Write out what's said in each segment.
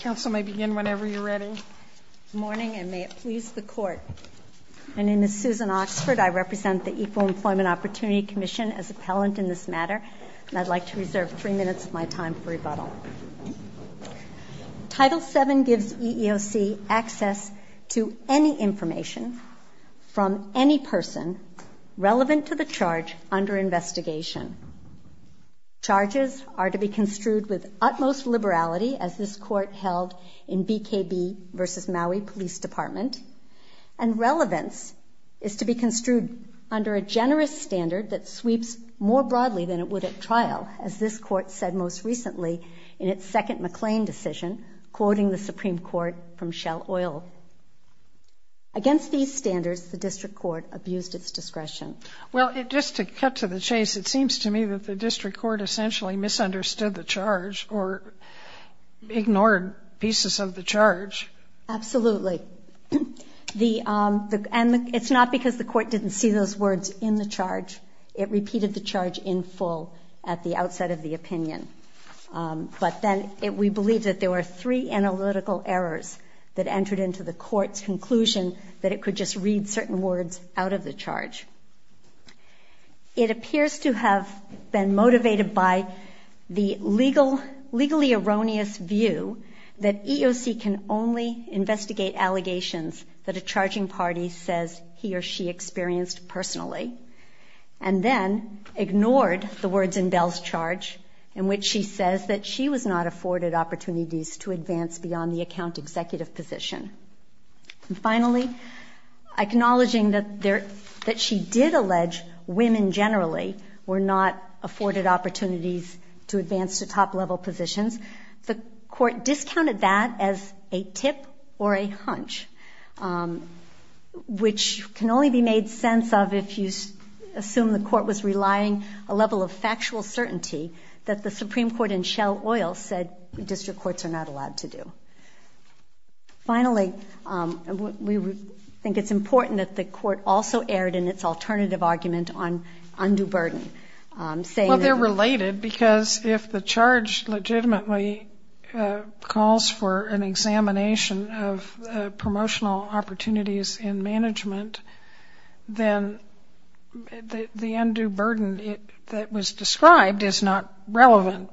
Title VII gives EEOC access to any information from any person relevant to the charge under investigation. Charges are to be construed with utmost liberality, as this Court held in BKB v. Maui Police Department, and relevance is to be construed under a generous standard that sweeps more broadly than it would at trial, as this Court said most recently in its second McLean decision, quoting the Supreme Court from Shell Oil. Against these standards, the District Court abused its discretion. Well, just to cut to the chase, it seems to me that the District Court essentially misunderstood the charge or ignored pieces of the charge. Absolutely. And it's not because the Court didn't see those words in the charge. It repeated the charge in full at the outset of the opinion. But then we believe that there were three analytical errors that entered into the Court's conclusion that it could just read certain words out of the charge. It appears to have been motivated by the legally erroneous view that EEOC can only investigate allegations that a charging party says he or she experienced personally, and then ignored the words in Bell's charge in which she says that she was not afforded opportunities to advance beyond the account executive position. And finally, acknowledging that she did allege women generally were not afforded opportunities to advance to top-level positions, the Court discounted that as a tip or a hunch, which can only be made sense of if you assume the Court was relying a level of factual certainty that the Supreme Court in Shell Oil said District Courts are not allowed to do. Finally, we think it's important that the Court also erred in its alternative argument on undue burden, saying that... Well, they're related because if the charge legitimately calls for an examination of promotional opportunities in management, then the undue burden that was described is not relevant.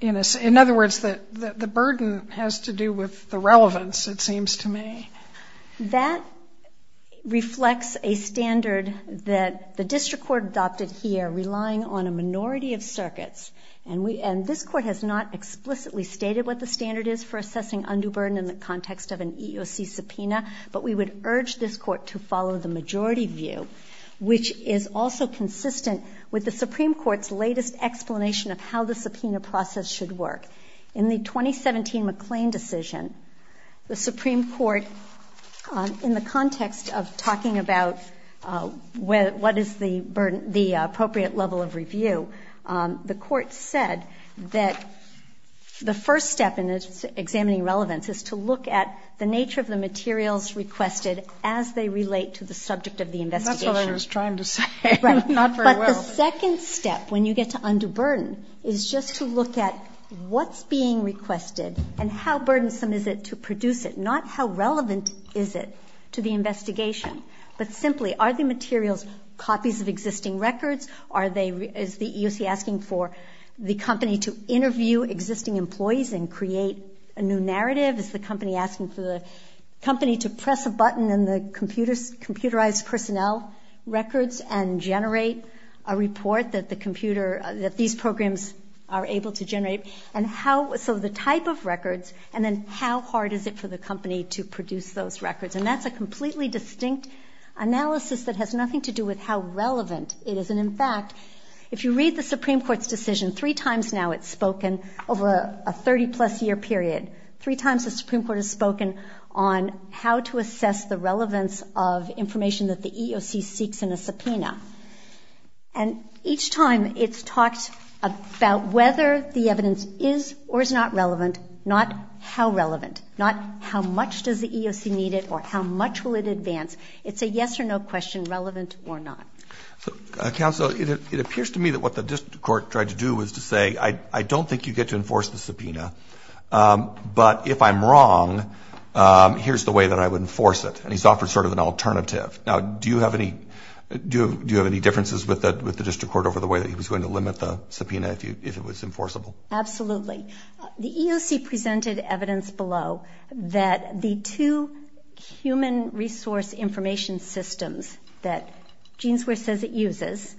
In other words, the burden has to do with the relevance, it seems to me. That reflects a standard that the District Court adopted here relying on a minority of circuits, and this Court has not explicitly stated what the standard is for assessing undue burden in the context of an EEOC subpoena, but we would urge this Court to follow the majority view, which is also consistent with the Supreme Court's latest explanation of how the subpoena process should work. In the 2017 McLean decision, the Supreme Court, in the context of talking about what is the appropriate level of review, the Court said that the first step in examining relevance is to look at the nature of the materials requested as they relate to the subject of the investigation. That's what I was trying to say. Right. Not very well. But the second step when you get to undue burden is just to look at what's being requested and how burdensome is it to produce it, not how relevant is it to the investigation, but simply are the materials copies of existing records? Are they, is the EEOC asking for the company to interview existing employees and create a new narrative? Is the company asking for the company to press a button in the computerized personnel records and generate a report that the computer, that these programs are able to generate? And how, so the type of records, and then how hard is it for the company to produce those records? And that's a completely distinct analysis that has nothing to do with how relevant it is. And in fact, if you read the Supreme Court's decision three times now, it's spoken over a 30 plus year period. Three times the Supreme Court has spoken on how to assess the relevance of information that the EEOC seeks in a subpoena. And each time it's talked about whether the evidence is or is not relevant, not how relevant, not how much does the EEOC need it, or how much will it advance? It's a yes or no question, relevant or not. So counsel, it appears to me that what the district court tried to do was to say, I don't think you get to enforce the subpoena. But if I'm wrong, here's the way that I would enforce it. And he's offered sort of an alternative. Now, do you have any, do you have any differences with the district court over the way that he was going to limit the subpoena if it was enforceable? Absolutely. The EEOC presented evidence below that the two human resource information systems that Genesware says it uses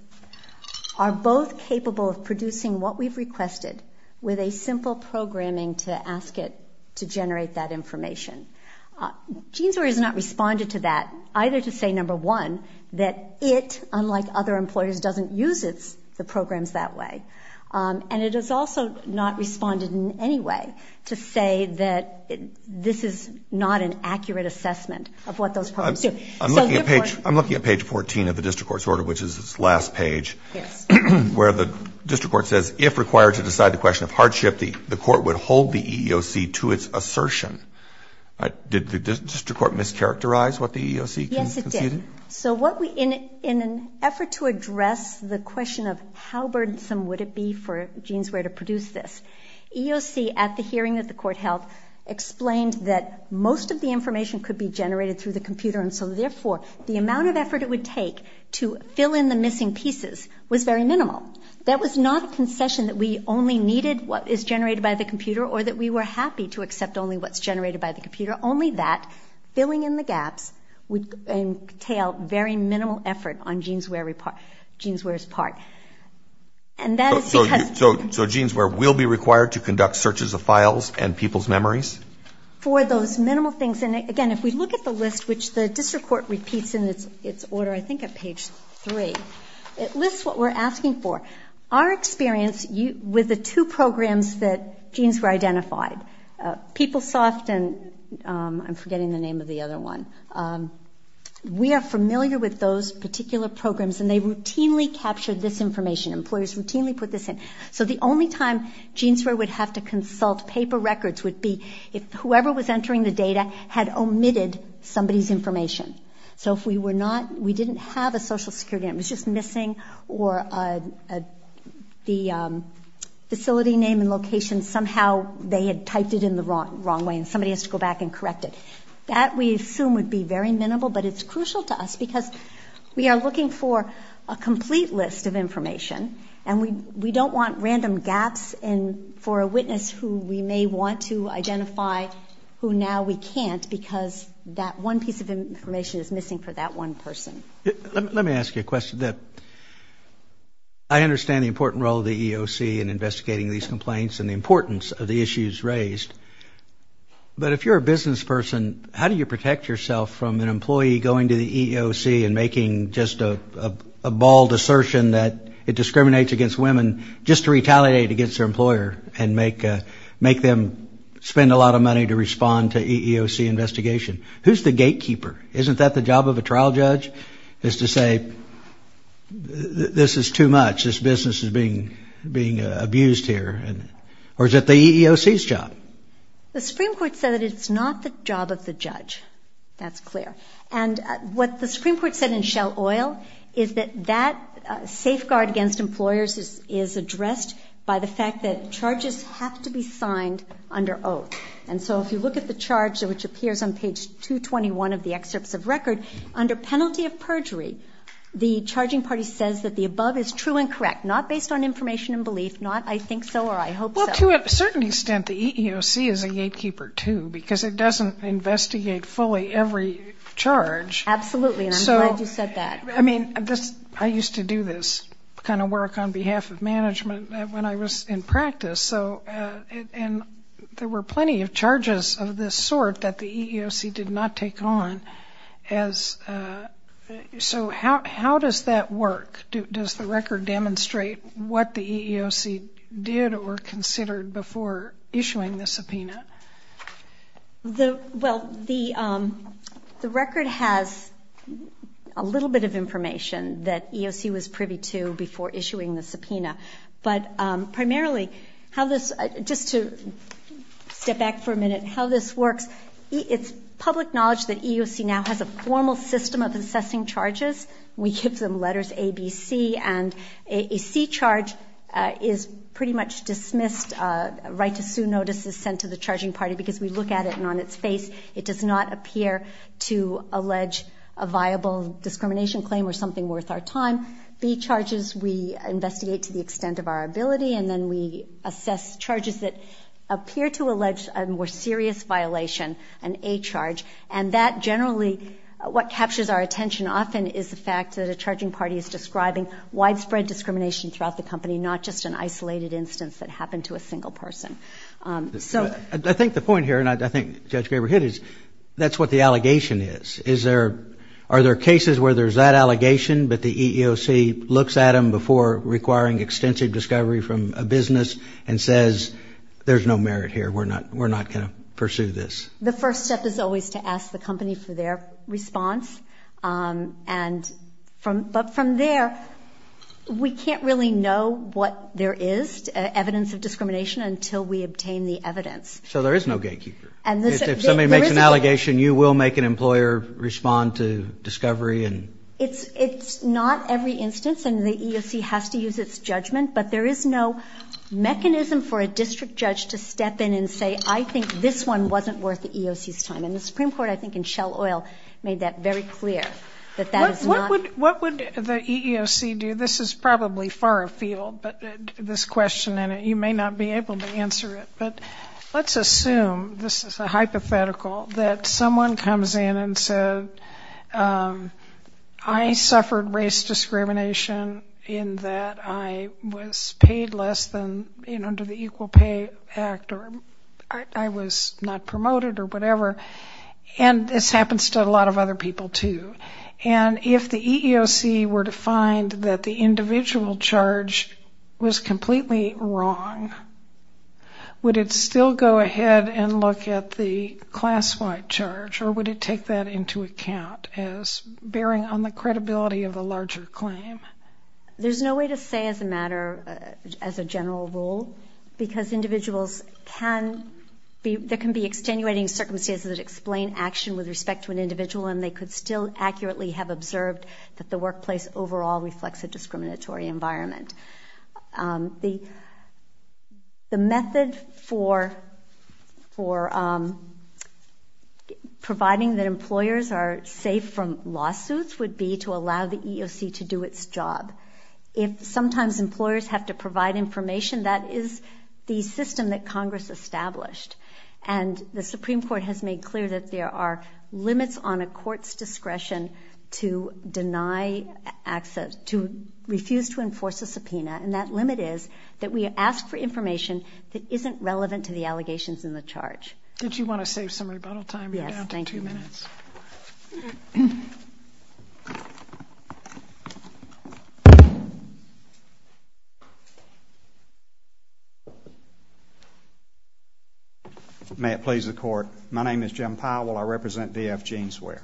are both capable of producing what we've requested with a simple programming to ask it to generate that information. Genesware has not responded to that, either to say, number one, that it, unlike other employers, doesn't use the programs that way. And it has also not responded in any way to say that this is not an accurate assessment of what those programs do. I'm looking at page 14 of the district court's order, which is its last page, where the district court says, if required to decide the question of hardship, the court would hold the EEOC to its assertion. Did the district court mischaracterize what the EEOC conceded? Yes, it did. So what we, in an effort to address the question of how burdensome would it be for Genesware to produce this, EEOC, at the hearing that the court held, explained that most of the information could be generated through the computer. And so, therefore, the amount of effort it would take to fill in the missing pieces was very minimal. That was not a concession that we only needed what is generated by the computer or that we were happy to accept only what's generated by the computer, but very minimal effort on Genesware's part. So Genesware will be required to conduct searches of files and people's memories? For those minimal things, and again, if we look at the list, which the district court repeats in its order, I think at page 3, it lists what we're asking for. Our experience with the two programs that Genesware identified, PeopleSoft and I'm forgetting the name of the other one, we are familiar with those particular programs and they routinely capture this information. Employers routinely put this in. So the only time Genesware would have to consult paper records would be if whoever was entering the data had omitted somebody's information. So if we were not, we didn't have a social security number, it was just missing or the facility name and location, somehow they had typed it in the wrong way and somebody has to go back and correct it. That we assume would be very minimal, but it's crucial to us because we are looking for a complete list of information and we don't want random gaps for a witness who we may want to identify who now we can't because that one piece of information is missing for that one person. Let me ask you a question. I understand the important role of the EOC in investigating these complaints and the importance of the issues raised, but if you're a business person, how do you protect yourself from an employee going to the EOC and making just a bald assertion that it discriminates against women just to retaliate against their employer and make them spend a lot of money to respond to EEOC investigation? Who's the gatekeeper? Isn't that the job of a trial judge is to say this is too much, this business is being abused here? Or is it the EEOC's job? The Supreme Court said that it's not the job of the judge. That's clear. And what the Supreme Court said in Shell Oil is that that safeguard against employers is addressed by the fact that charges have to be signed under oath. And so if you look at the charge, which appears on page 221 of the excerpts of record, under penalty of perjury, the charging party says that the above is true and correct, not based on information and belief, not I think so or I hope so. Well, to a certain extent, the EEOC is a gatekeeper, too, because it doesn't investigate fully every charge. Absolutely, and I'm glad you said that. I mean, I used to do this kind of work on behalf of management when I was in practice, and there were plenty of charges of this sort that the EEOC did not take on. So how does that work? Does the record demonstrate what the EEOC did or considered before issuing the subpoena? Well, the record has a little bit of information that EEOC was privy to before issuing the subpoena, but primarily, just to step back for a minute, how this works, it's public knowledge that EEOC now has a formal system of assessing charges. We give them letters A, B, C, and a C charge is pretty much dismissed. A right to sue notice is sent to the charging party because we look at it, and on its face, it does not appear to allege a viable discrimination claim or something worth our time. B charges we investigate to the extent of our ability, and then we assess charges that appear to allege a more serious violation, an A charge, and that generally what captures our attention often is the fact that a charging party is describing widespread discrimination throughout the company, not just an isolated instance that happened to a single person. I think the point here, and I think Judge Graber hit it, is that's what the allegation is. Are there cases where there's that allegation, but the EEOC looks at them before requiring extensive discovery from a business and says there's no merit here, we're not going to pursue this? The first step is always to ask the company for their response, but from there, we can't really know what there is, evidence of discrimination, until we obtain the evidence. So there is no gatekeeper. If somebody makes an allegation, you will make an employer respond to discovery? It's not every instance, and the EEOC has to use its judgment, but there is no mechanism for a district judge to step in and say, I think this one wasn't worth the EEOC's time. And the Supreme Court, I think, in Shell Oil made that very clear, that that is not. What would the EEOC do? This is probably far afield, but this question, and you may not be able to answer it, but let's assume, this is a hypothetical, that someone comes in and says, I suffered race discrimination in that I was paid less than under the Equal Pay Act or I was not promoted or whatever, and this happens to a lot of other people too. And if the EEOC were to find that the individual charge was completely wrong, would it still go ahead and look at the class-wide charge, or would it take that into account as bearing on the credibility of a larger claim? There's no way to say as a matter, as a general rule, because individuals can be, there can be extenuating circumstances that explain action with respect to an individual, and they could still accurately have observed that the workplace overall reflects a discriminatory environment. The method for providing that employers are safe from lawsuits would be to allow the EEOC to do its job. If sometimes employers have to provide information, that is the system that Congress established, and the Supreme Court has made clear that there are limits on a court's discretion to deny access, to refuse to enforce a subpoena, and that limit is that we ask for information that isn't relevant to the allegations in the charge. Did you want to save some rebuttal time? We are down to two minutes. May it please the Court. My name is Jim Powell. I represent D.F. Jeanswear.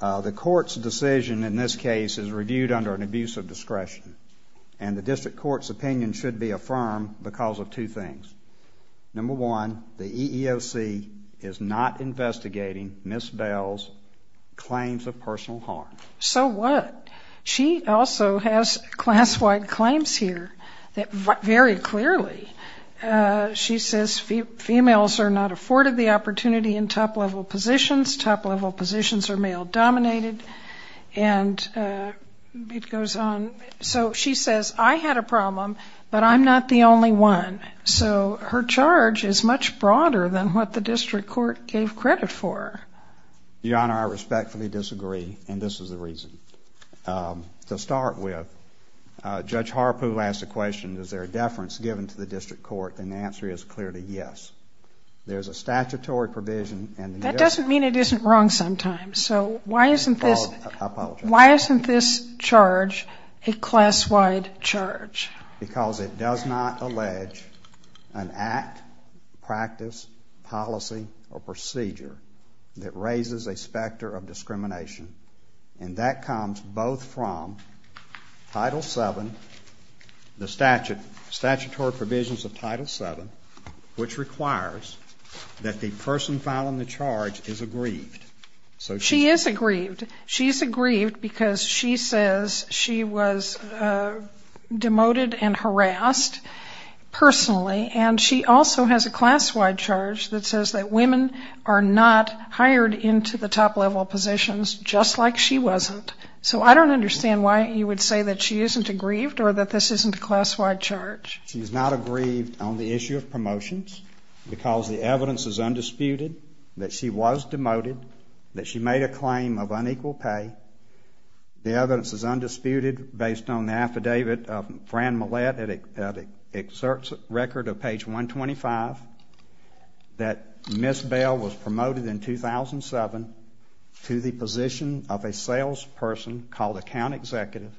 The Court's decision in this case is reviewed under an abuse of discretion, and the District Court's opinion should be affirmed because of two things. Number one, the EEOC is not investigating Ms. Bell's claims of personal harm. So what? She also has class-wide claims here that vary clearly. She says females are not afforded the opportunity in top-level positions, top-level positions are male-dominated, and it goes on. So she says, I had a problem, but I'm not the only one. So her charge is much broader than what the District Court gave credit for. Your Honor, I respectfully disagree, and this is the reason. To start with, Judge Harpoo asked the question, is there a deference given to the District Court? And the answer is clearly yes. There's a statutory provision. That doesn't mean it isn't wrong sometimes. So why isn't this charge a class-wide charge? Because it does not allege an act, practice, policy, or procedure that raises a specter of discrimination. And that comes both from Title VII, the statutory provisions of Title VII, which requires that the person filing the charge is aggrieved. She is aggrieved. She's aggrieved because she says she was demoted and harassed personally, and she also has a class-wide charge that says that women are not hired into the top-level positions just like she wasn't. So I don't understand why you would say that she isn't aggrieved or that this isn't a class-wide charge. She's not aggrieved on the issue of promotions because the evidence is undisputed that she was demoted, that she made a claim of unequal pay. The evidence is undisputed based on the affidavit of Fran Millett that exerts a record of page 125 that Ms. Bell was promoted in 2007 to the position of a salesperson called account executive,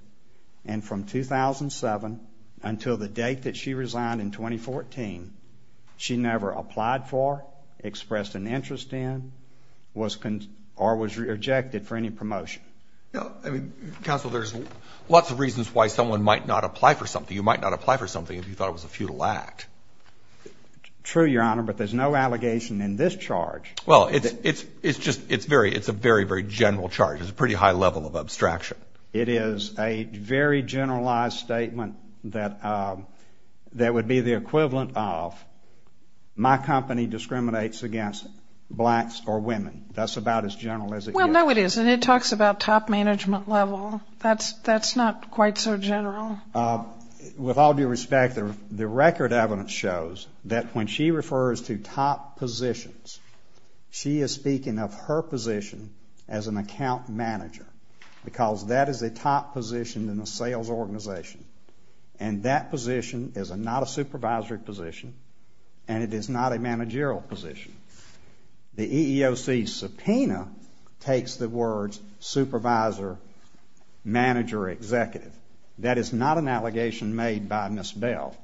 and from 2007 until the date that she resigned in 2014, she never applied for, expressed an interest in, or was rejected for any promotion. Counsel, there's lots of reasons why someone might not apply for something. You might not apply for something if you thought it was a futile act. True, Your Honor, but there's no allegation in this charge. Well, it's just a very, very general charge. There's a pretty high level of abstraction. It is a very generalized statement that would be the equivalent of my company discriminates against blacks or women. That's about as general as it gets. Well, no, it isn't. It talks about top management level. Well, that's not quite so general. With all due respect, the record evidence shows that when she refers to top positions, she is speaking of her position as an account manager, because that is a top position in a sales organization, and that position is not a supervisory position, and it is not a managerial position. The EEOC subpoena takes the words supervisor, manager, executive. That is not an allegation made by Ms. Bell,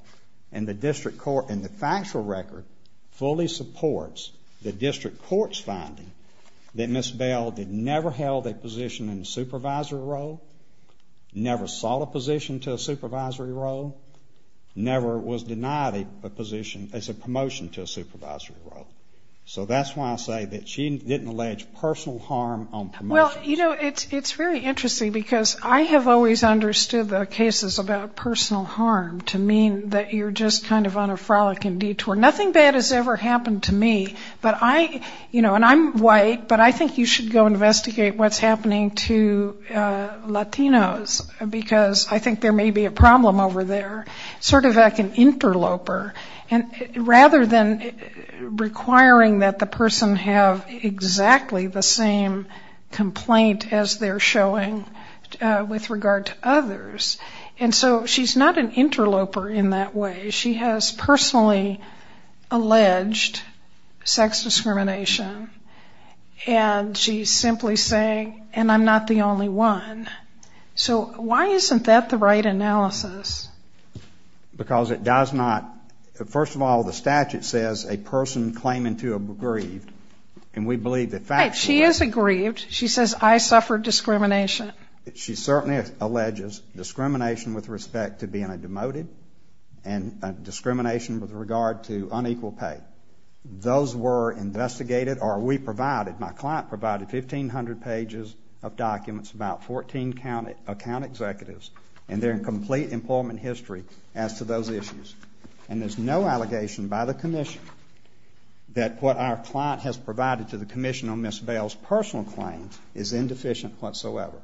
and the district court in the factual record fully supports the district court's finding that Ms. Bell never held a position in a supervisory role, never sought a position to a supervisory role, never was denied a position as a promotion to a supervisory role. So that's why I say that she didn't allege personal harm on promotions. Well, you know, it's very interesting, because I have always understood the cases about personal harm to mean that you're just kind of on a frolicking detour. Nothing bad has ever happened to me, but I, you know, and I'm white, but I think you should go investigate what's happening to Latinos, because I think there may be a problem over there, sort of like an interloper. And rather than requiring that the person have exactly the same complaint as they're showing with regard to others, and so she's not an interloper in that way. She has personally alleged sex discrimination, and she's simply saying, and I'm not the only one. So why isn't that the right analysis? Because it does not, first of all, the statute says a person claiming to have aggrieved, and we believe that factually. Right, she has aggrieved. She says, I suffered discrimination. She certainly alleges discrimination with respect to being a demoted, and discrimination with regard to unequal pay. Those were investigated, or we provided, my client provided 1,500 pages of documents, about 14 account executives, and their complete employment history as to those issues. And there's no allegation by the commission that what our client has provided to the commission on Ms. Bales' personal claims is indeficient whatsoever.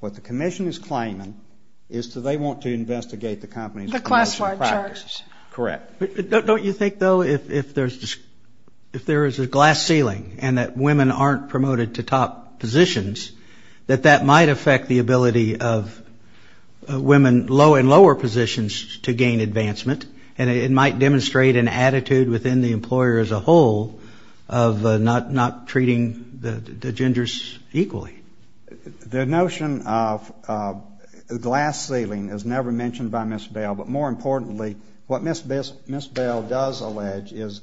What the commission is claiming is that they want to investigate the company's promotion practice. The class-wide charges. Correct. Don't you think, though, if there's a glass ceiling and that women aren't promoted to top positions, that that might affect the ability of women in lower positions to gain advancement, and it might demonstrate an attitude within the employer as a whole of not treating the genders equally? The notion of glass ceiling is never mentioned by Ms. Bales, but more importantly, what Ms. Bales does allege is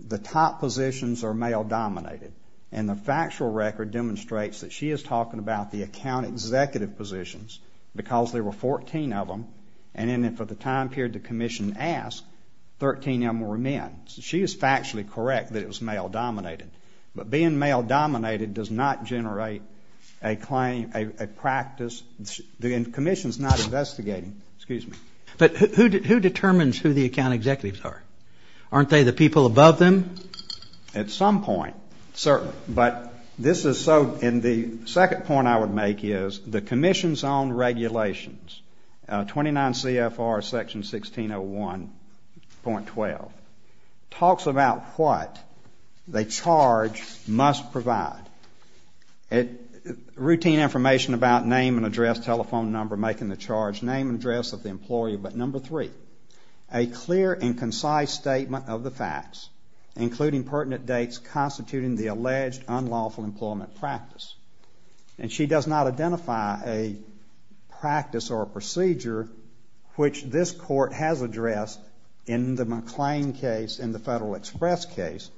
the top positions are male-dominated, and the factual record demonstrates that she is talking about the account executive positions because there were 14 of them, and then for the time period the commission asked, 13 of them were men. She is factually correct that it was male-dominated. But being male-dominated does not generate a claim, a practice. The commission is not investigating. Excuse me. But who determines who the account executives are? Aren't they the people above them? At some point, certainly. But this is so. And the second point I would make is the commission's own regulations, 29 CFR Section 1601.12, talks about what the charge must provide. Routine information about name and address, telephone number, making the charge, name and address of the employee. But number three, a clear and concise statement of the facts, including pertinent dates, constituting the alleged unlawful employment practice. And she does not identify a practice or a procedure which this court has addressed in the McLean case, in the Federal Express case,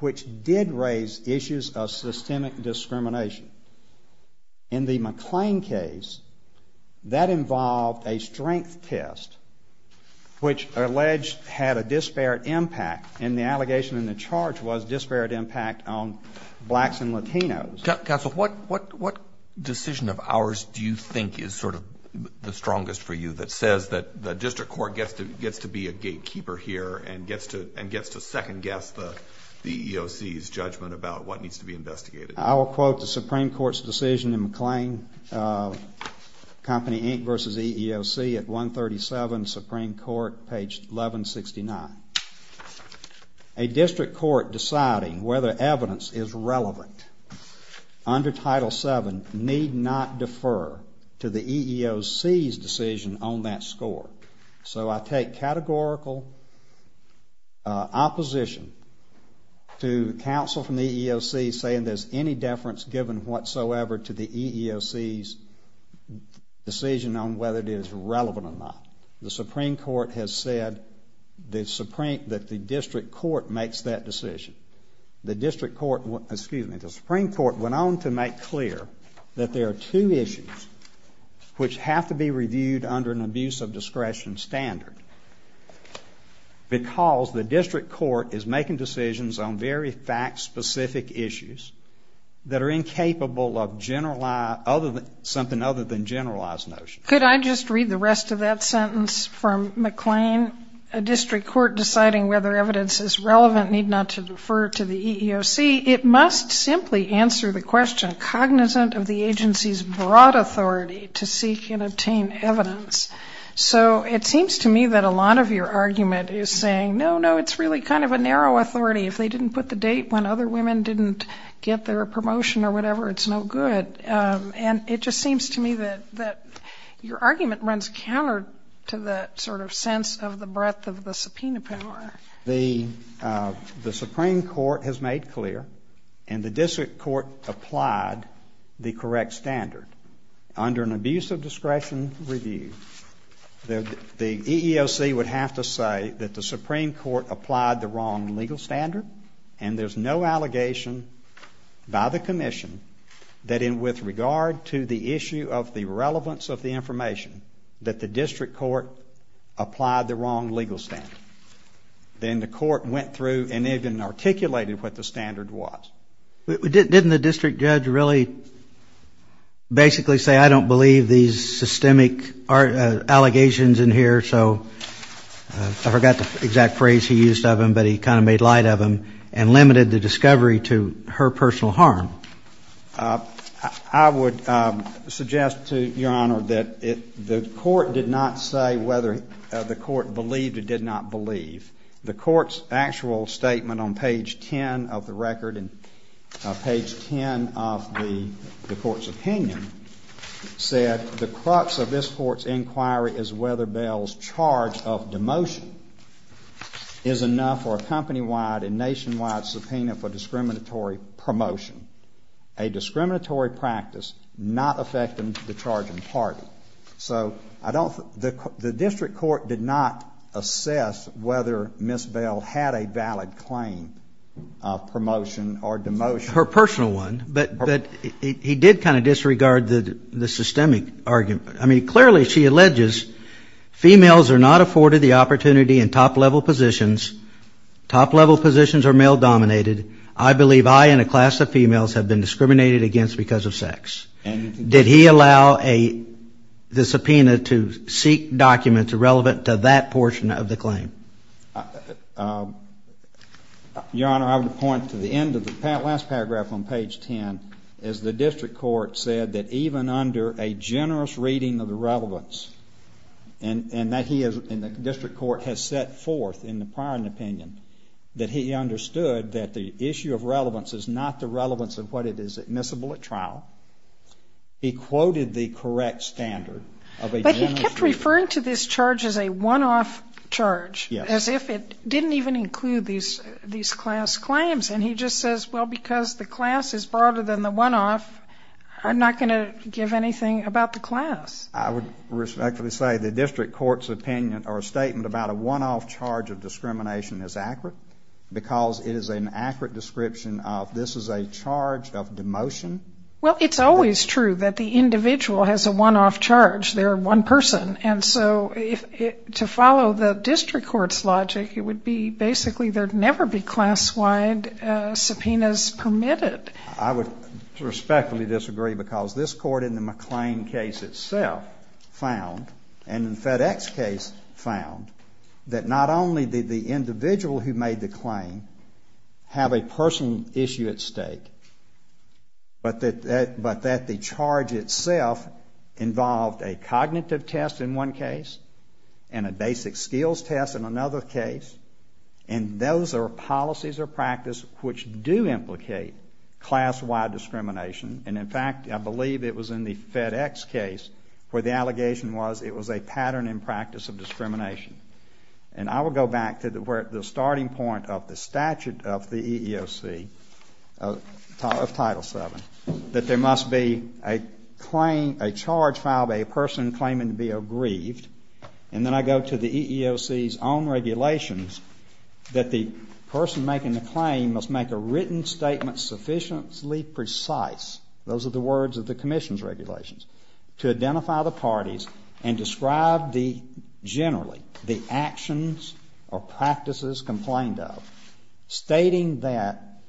which did raise issues of systemic discrimination. In the McLean case, that involved a strength test, which alleged had a disparate impact, and the allegation in the charge was disparate impact on blacks and Latinos. Counsel, what decision of ours do you think is sort of the strongest for you that says that the district court gets to be a gatekeeper here and gets to second-guess the EEOC's judgment about what needs to be investigated? I will quote the Supreme Court's decision in McLean, Company Inc. v. EEOC at 137 Supreme Court, page 1169. A district court deciding whether evidence is relevant under Title VII need not defer to the EEOC's decision on that score. So I take categorical opposition to counsel from the EEOC saying there's any deference given whatsoever to the EEOC's decision on whether it is relevant or not. The Supreme Court has said that the district court makes that decision. The district court, excuse me, the Supreme Court went on to make clear that there are two issues which have to be reviewed under an abuse of discretion standard because the district court is making decisions on very fact-specific issues that are incapable of something other than generalized notions. Could I just read the rest of that sentence from McLean? A district court deciding whether evidence is relevant need not defer to the EEOC. It must simply answer the question cognizant of the agency's broad authority to seek and obtain evidence. So it seems to me that a lot of your argument is saying, no, no, it's really kind of a narrow authority. If they didn't put the date when other women didn't get their promotion or whatever, it's no good. And it just seems to me that your argument runs counter to that sort of sense of the breadth of the subpoena power. The Supreme Court has made clear and the district court applied the correct standard. Under an abuse of discretion review, the EEOC would have to say that the Supreme Court applied the wrong legal standard and there's no allegation by the commission that in with regard to the issue of the relevance of the information that the district court applied the wrong legal standard. Then the court went through and even articulated what the standard was. Didn't the district judge really basically say I don't believe these systemic allegations in here? So I forgot the exact phrase he used of them, but he kind of made light of them and limited the discovery to her personal harm. I would suggest to your honor that the court did not say whether the court believed or did not believe. The court's actual statement on page 10 of the record and page 10 of the court's opinion said the crux of this court's inquiry is whether Bell's charge of demotion is enough for a company-wide and nationwide subpoena for discriminatory promotion. A discriminatory practice not affecting the charging party. So the district court did not assess whether Ms. Bell had a valid claim of promotion or demotion. Her personal one, but he did kind of disregard the systemic argument. I mean, clearly she alleges females are not afforded the opportunity in top-level positions. Top-level positions are male-dominated. I believe I and a class of females have been discriminated against because of sex. Did he allow the subpoena to seek documents relevant to that portion of the claim? Your honor, I would point to the end of the last paragraph on page 10. As the district court said that even under a generous reading of the relevance, and that he and the district court has set forth in the prior opinion, that he understood that the issue of relevance is not the relevance of what is admissible at trial. He quoted the correct standard of a generous reading. But he kept referring to this charge as a one-off charge. Yes. As if it didn't even include these class claims. And he just says, well, because the class is broader than the one-off, I'm not going to give anything about the class. I would respectfully say the district court's opinion or statement about a one-off charge of discrimination is accurate because it is an accurate description of this is a charge of demotion. Well, it's always true that the individual has a one-off charge. They're one person. And so to follow the district court's logic, it would be basically there would never be class-wide subpoenas permitted. I would respectfully disagree because this court in the McLean case itself found, and in FedEx's case found, that not only did the individual who made the claim have a personal issue at stake, but that the charge itself involved a cognitive test in one case and a basic skills test in another case. And those are policies or practice which do implicate class-wide discrimination. And, in fact, I believe it was in the FedEx case where the allegation was it was a pattern in practice of discrimination. And I will go back to the starting point of the statute of the EEOC, of Title VII, that there must be a charge filed by a person claiming to be aggrieved. And then I go to the EEOC's own regulations that the person making the claim must make a written statement sufficiently precise, those are the words of the commission's regulations, to identify the parties and describe generally the actions or practices complained of, stating that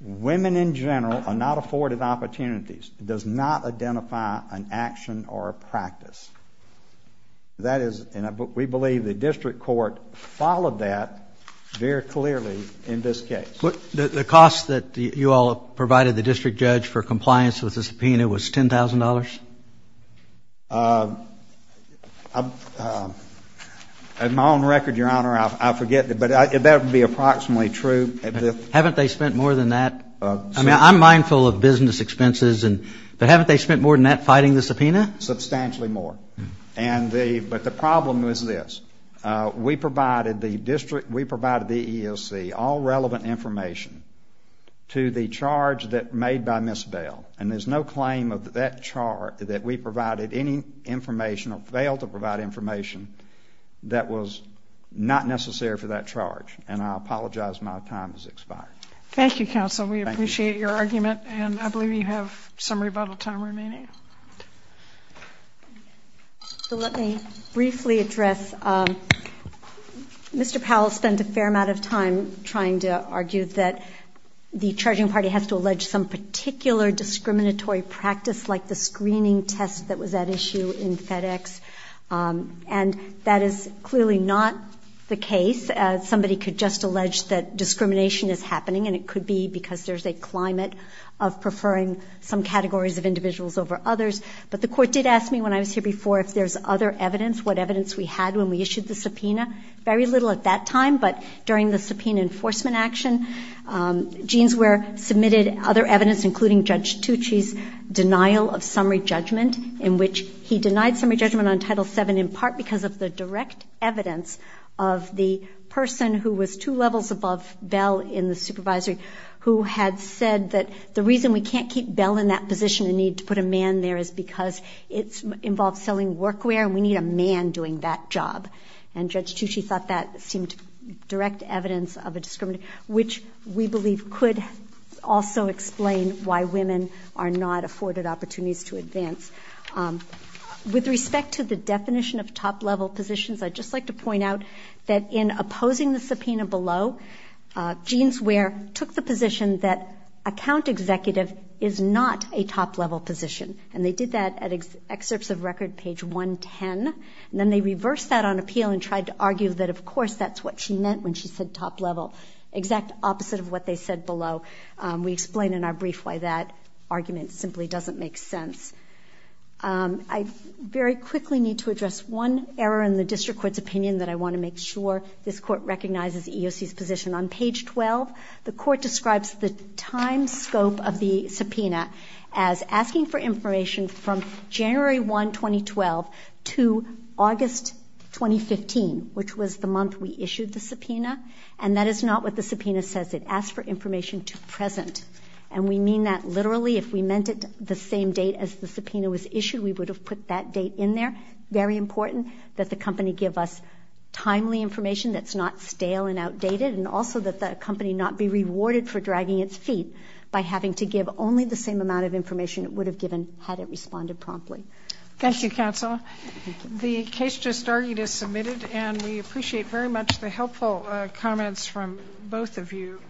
women in general are not afforded opportunities. It does not identify an action or a practice. That is, and we believe the district court followed that very clearly in this case. The cost that you all provided the district judge for compliance with the subpoena was $10,000? On my own record, Your Honor, I forget, but that would be approximately true. Haven't they spent more than that? I mean, I'm mindful of business expenses, but haven't they spent more than that fighting the subpoena? Substantially more. But the problem was this. We provided the EEOC all relevant information to the charge made by Ms. Bail. And there's no claim of that charge that we provided any information or failed to provide information that was not necessary for that charge. And I apologize my time has expired. Thank you, counsel. We appreciate your argument. And I believe you have some rebuttal time remaining. Let me briefly address Mr. Powell spent a fair amount of time trying to argue that the charging party has to allege some particular discriminatory practice like the screening test that was at issue in FedEx. And that is clearly not the case. Somebody could just allege that discrimination is happening, and it could be because there's a climate of preferring some categories of individuals over others. But the court did ask me when I was here before if there's other evidence, what evidence we had when we issued the subpoena. Very little at that time, but during the subpoena enforcement action, Jeanswear submitted other evidence, including Judge Tucci's denial of summary judgment, in which he denied summary judgment on Title VII in part because of the direct evidence of the person who was two levels above Bell in the supervisory, who had said that the reason we can't keep Bell in that position and need to put a man there is because it involves selling workwear, and we need a man doing that job. And Judge Tucci thought that seemed direct evidence of a discrimination, which we believe could also explain why women are not afforded opportunities to advance. With respect to the definition of top-level positions, I'd just like to point out that in opposing the subpoena below, Jeanswear took the position that account executive is not a top-level position, and they did that at excerpts of record page 110. And then they reversed that on appeal and tried to argue that, of course, that's what she meant when she said top-level, exact opposite of what they said below. We explain in our brief why that argument simply doesn't make sense. I very quickly need to address one error in the district court's opinion that I want to make sure this court recognizes EOC's position. On page 12, the court describes the time scope of the subpoena as asking for information from January 1, 2012, to August 2015, which was the month we issued the subpoena. And that is not what the subpoena says. It asks for information to present. And we mean that literally. If we meant it the same date as the subpoena was issued, we would have put that date in there. Very important that the company give us timely information that's not stale and outdated, and also that the company not be rewarded for dragging its feet by having to give only the same amount of information it would have given had it responded promptly. Thank you, counsel. The case just argued is submitted, and we appreciate very much the helpful comments from both of you.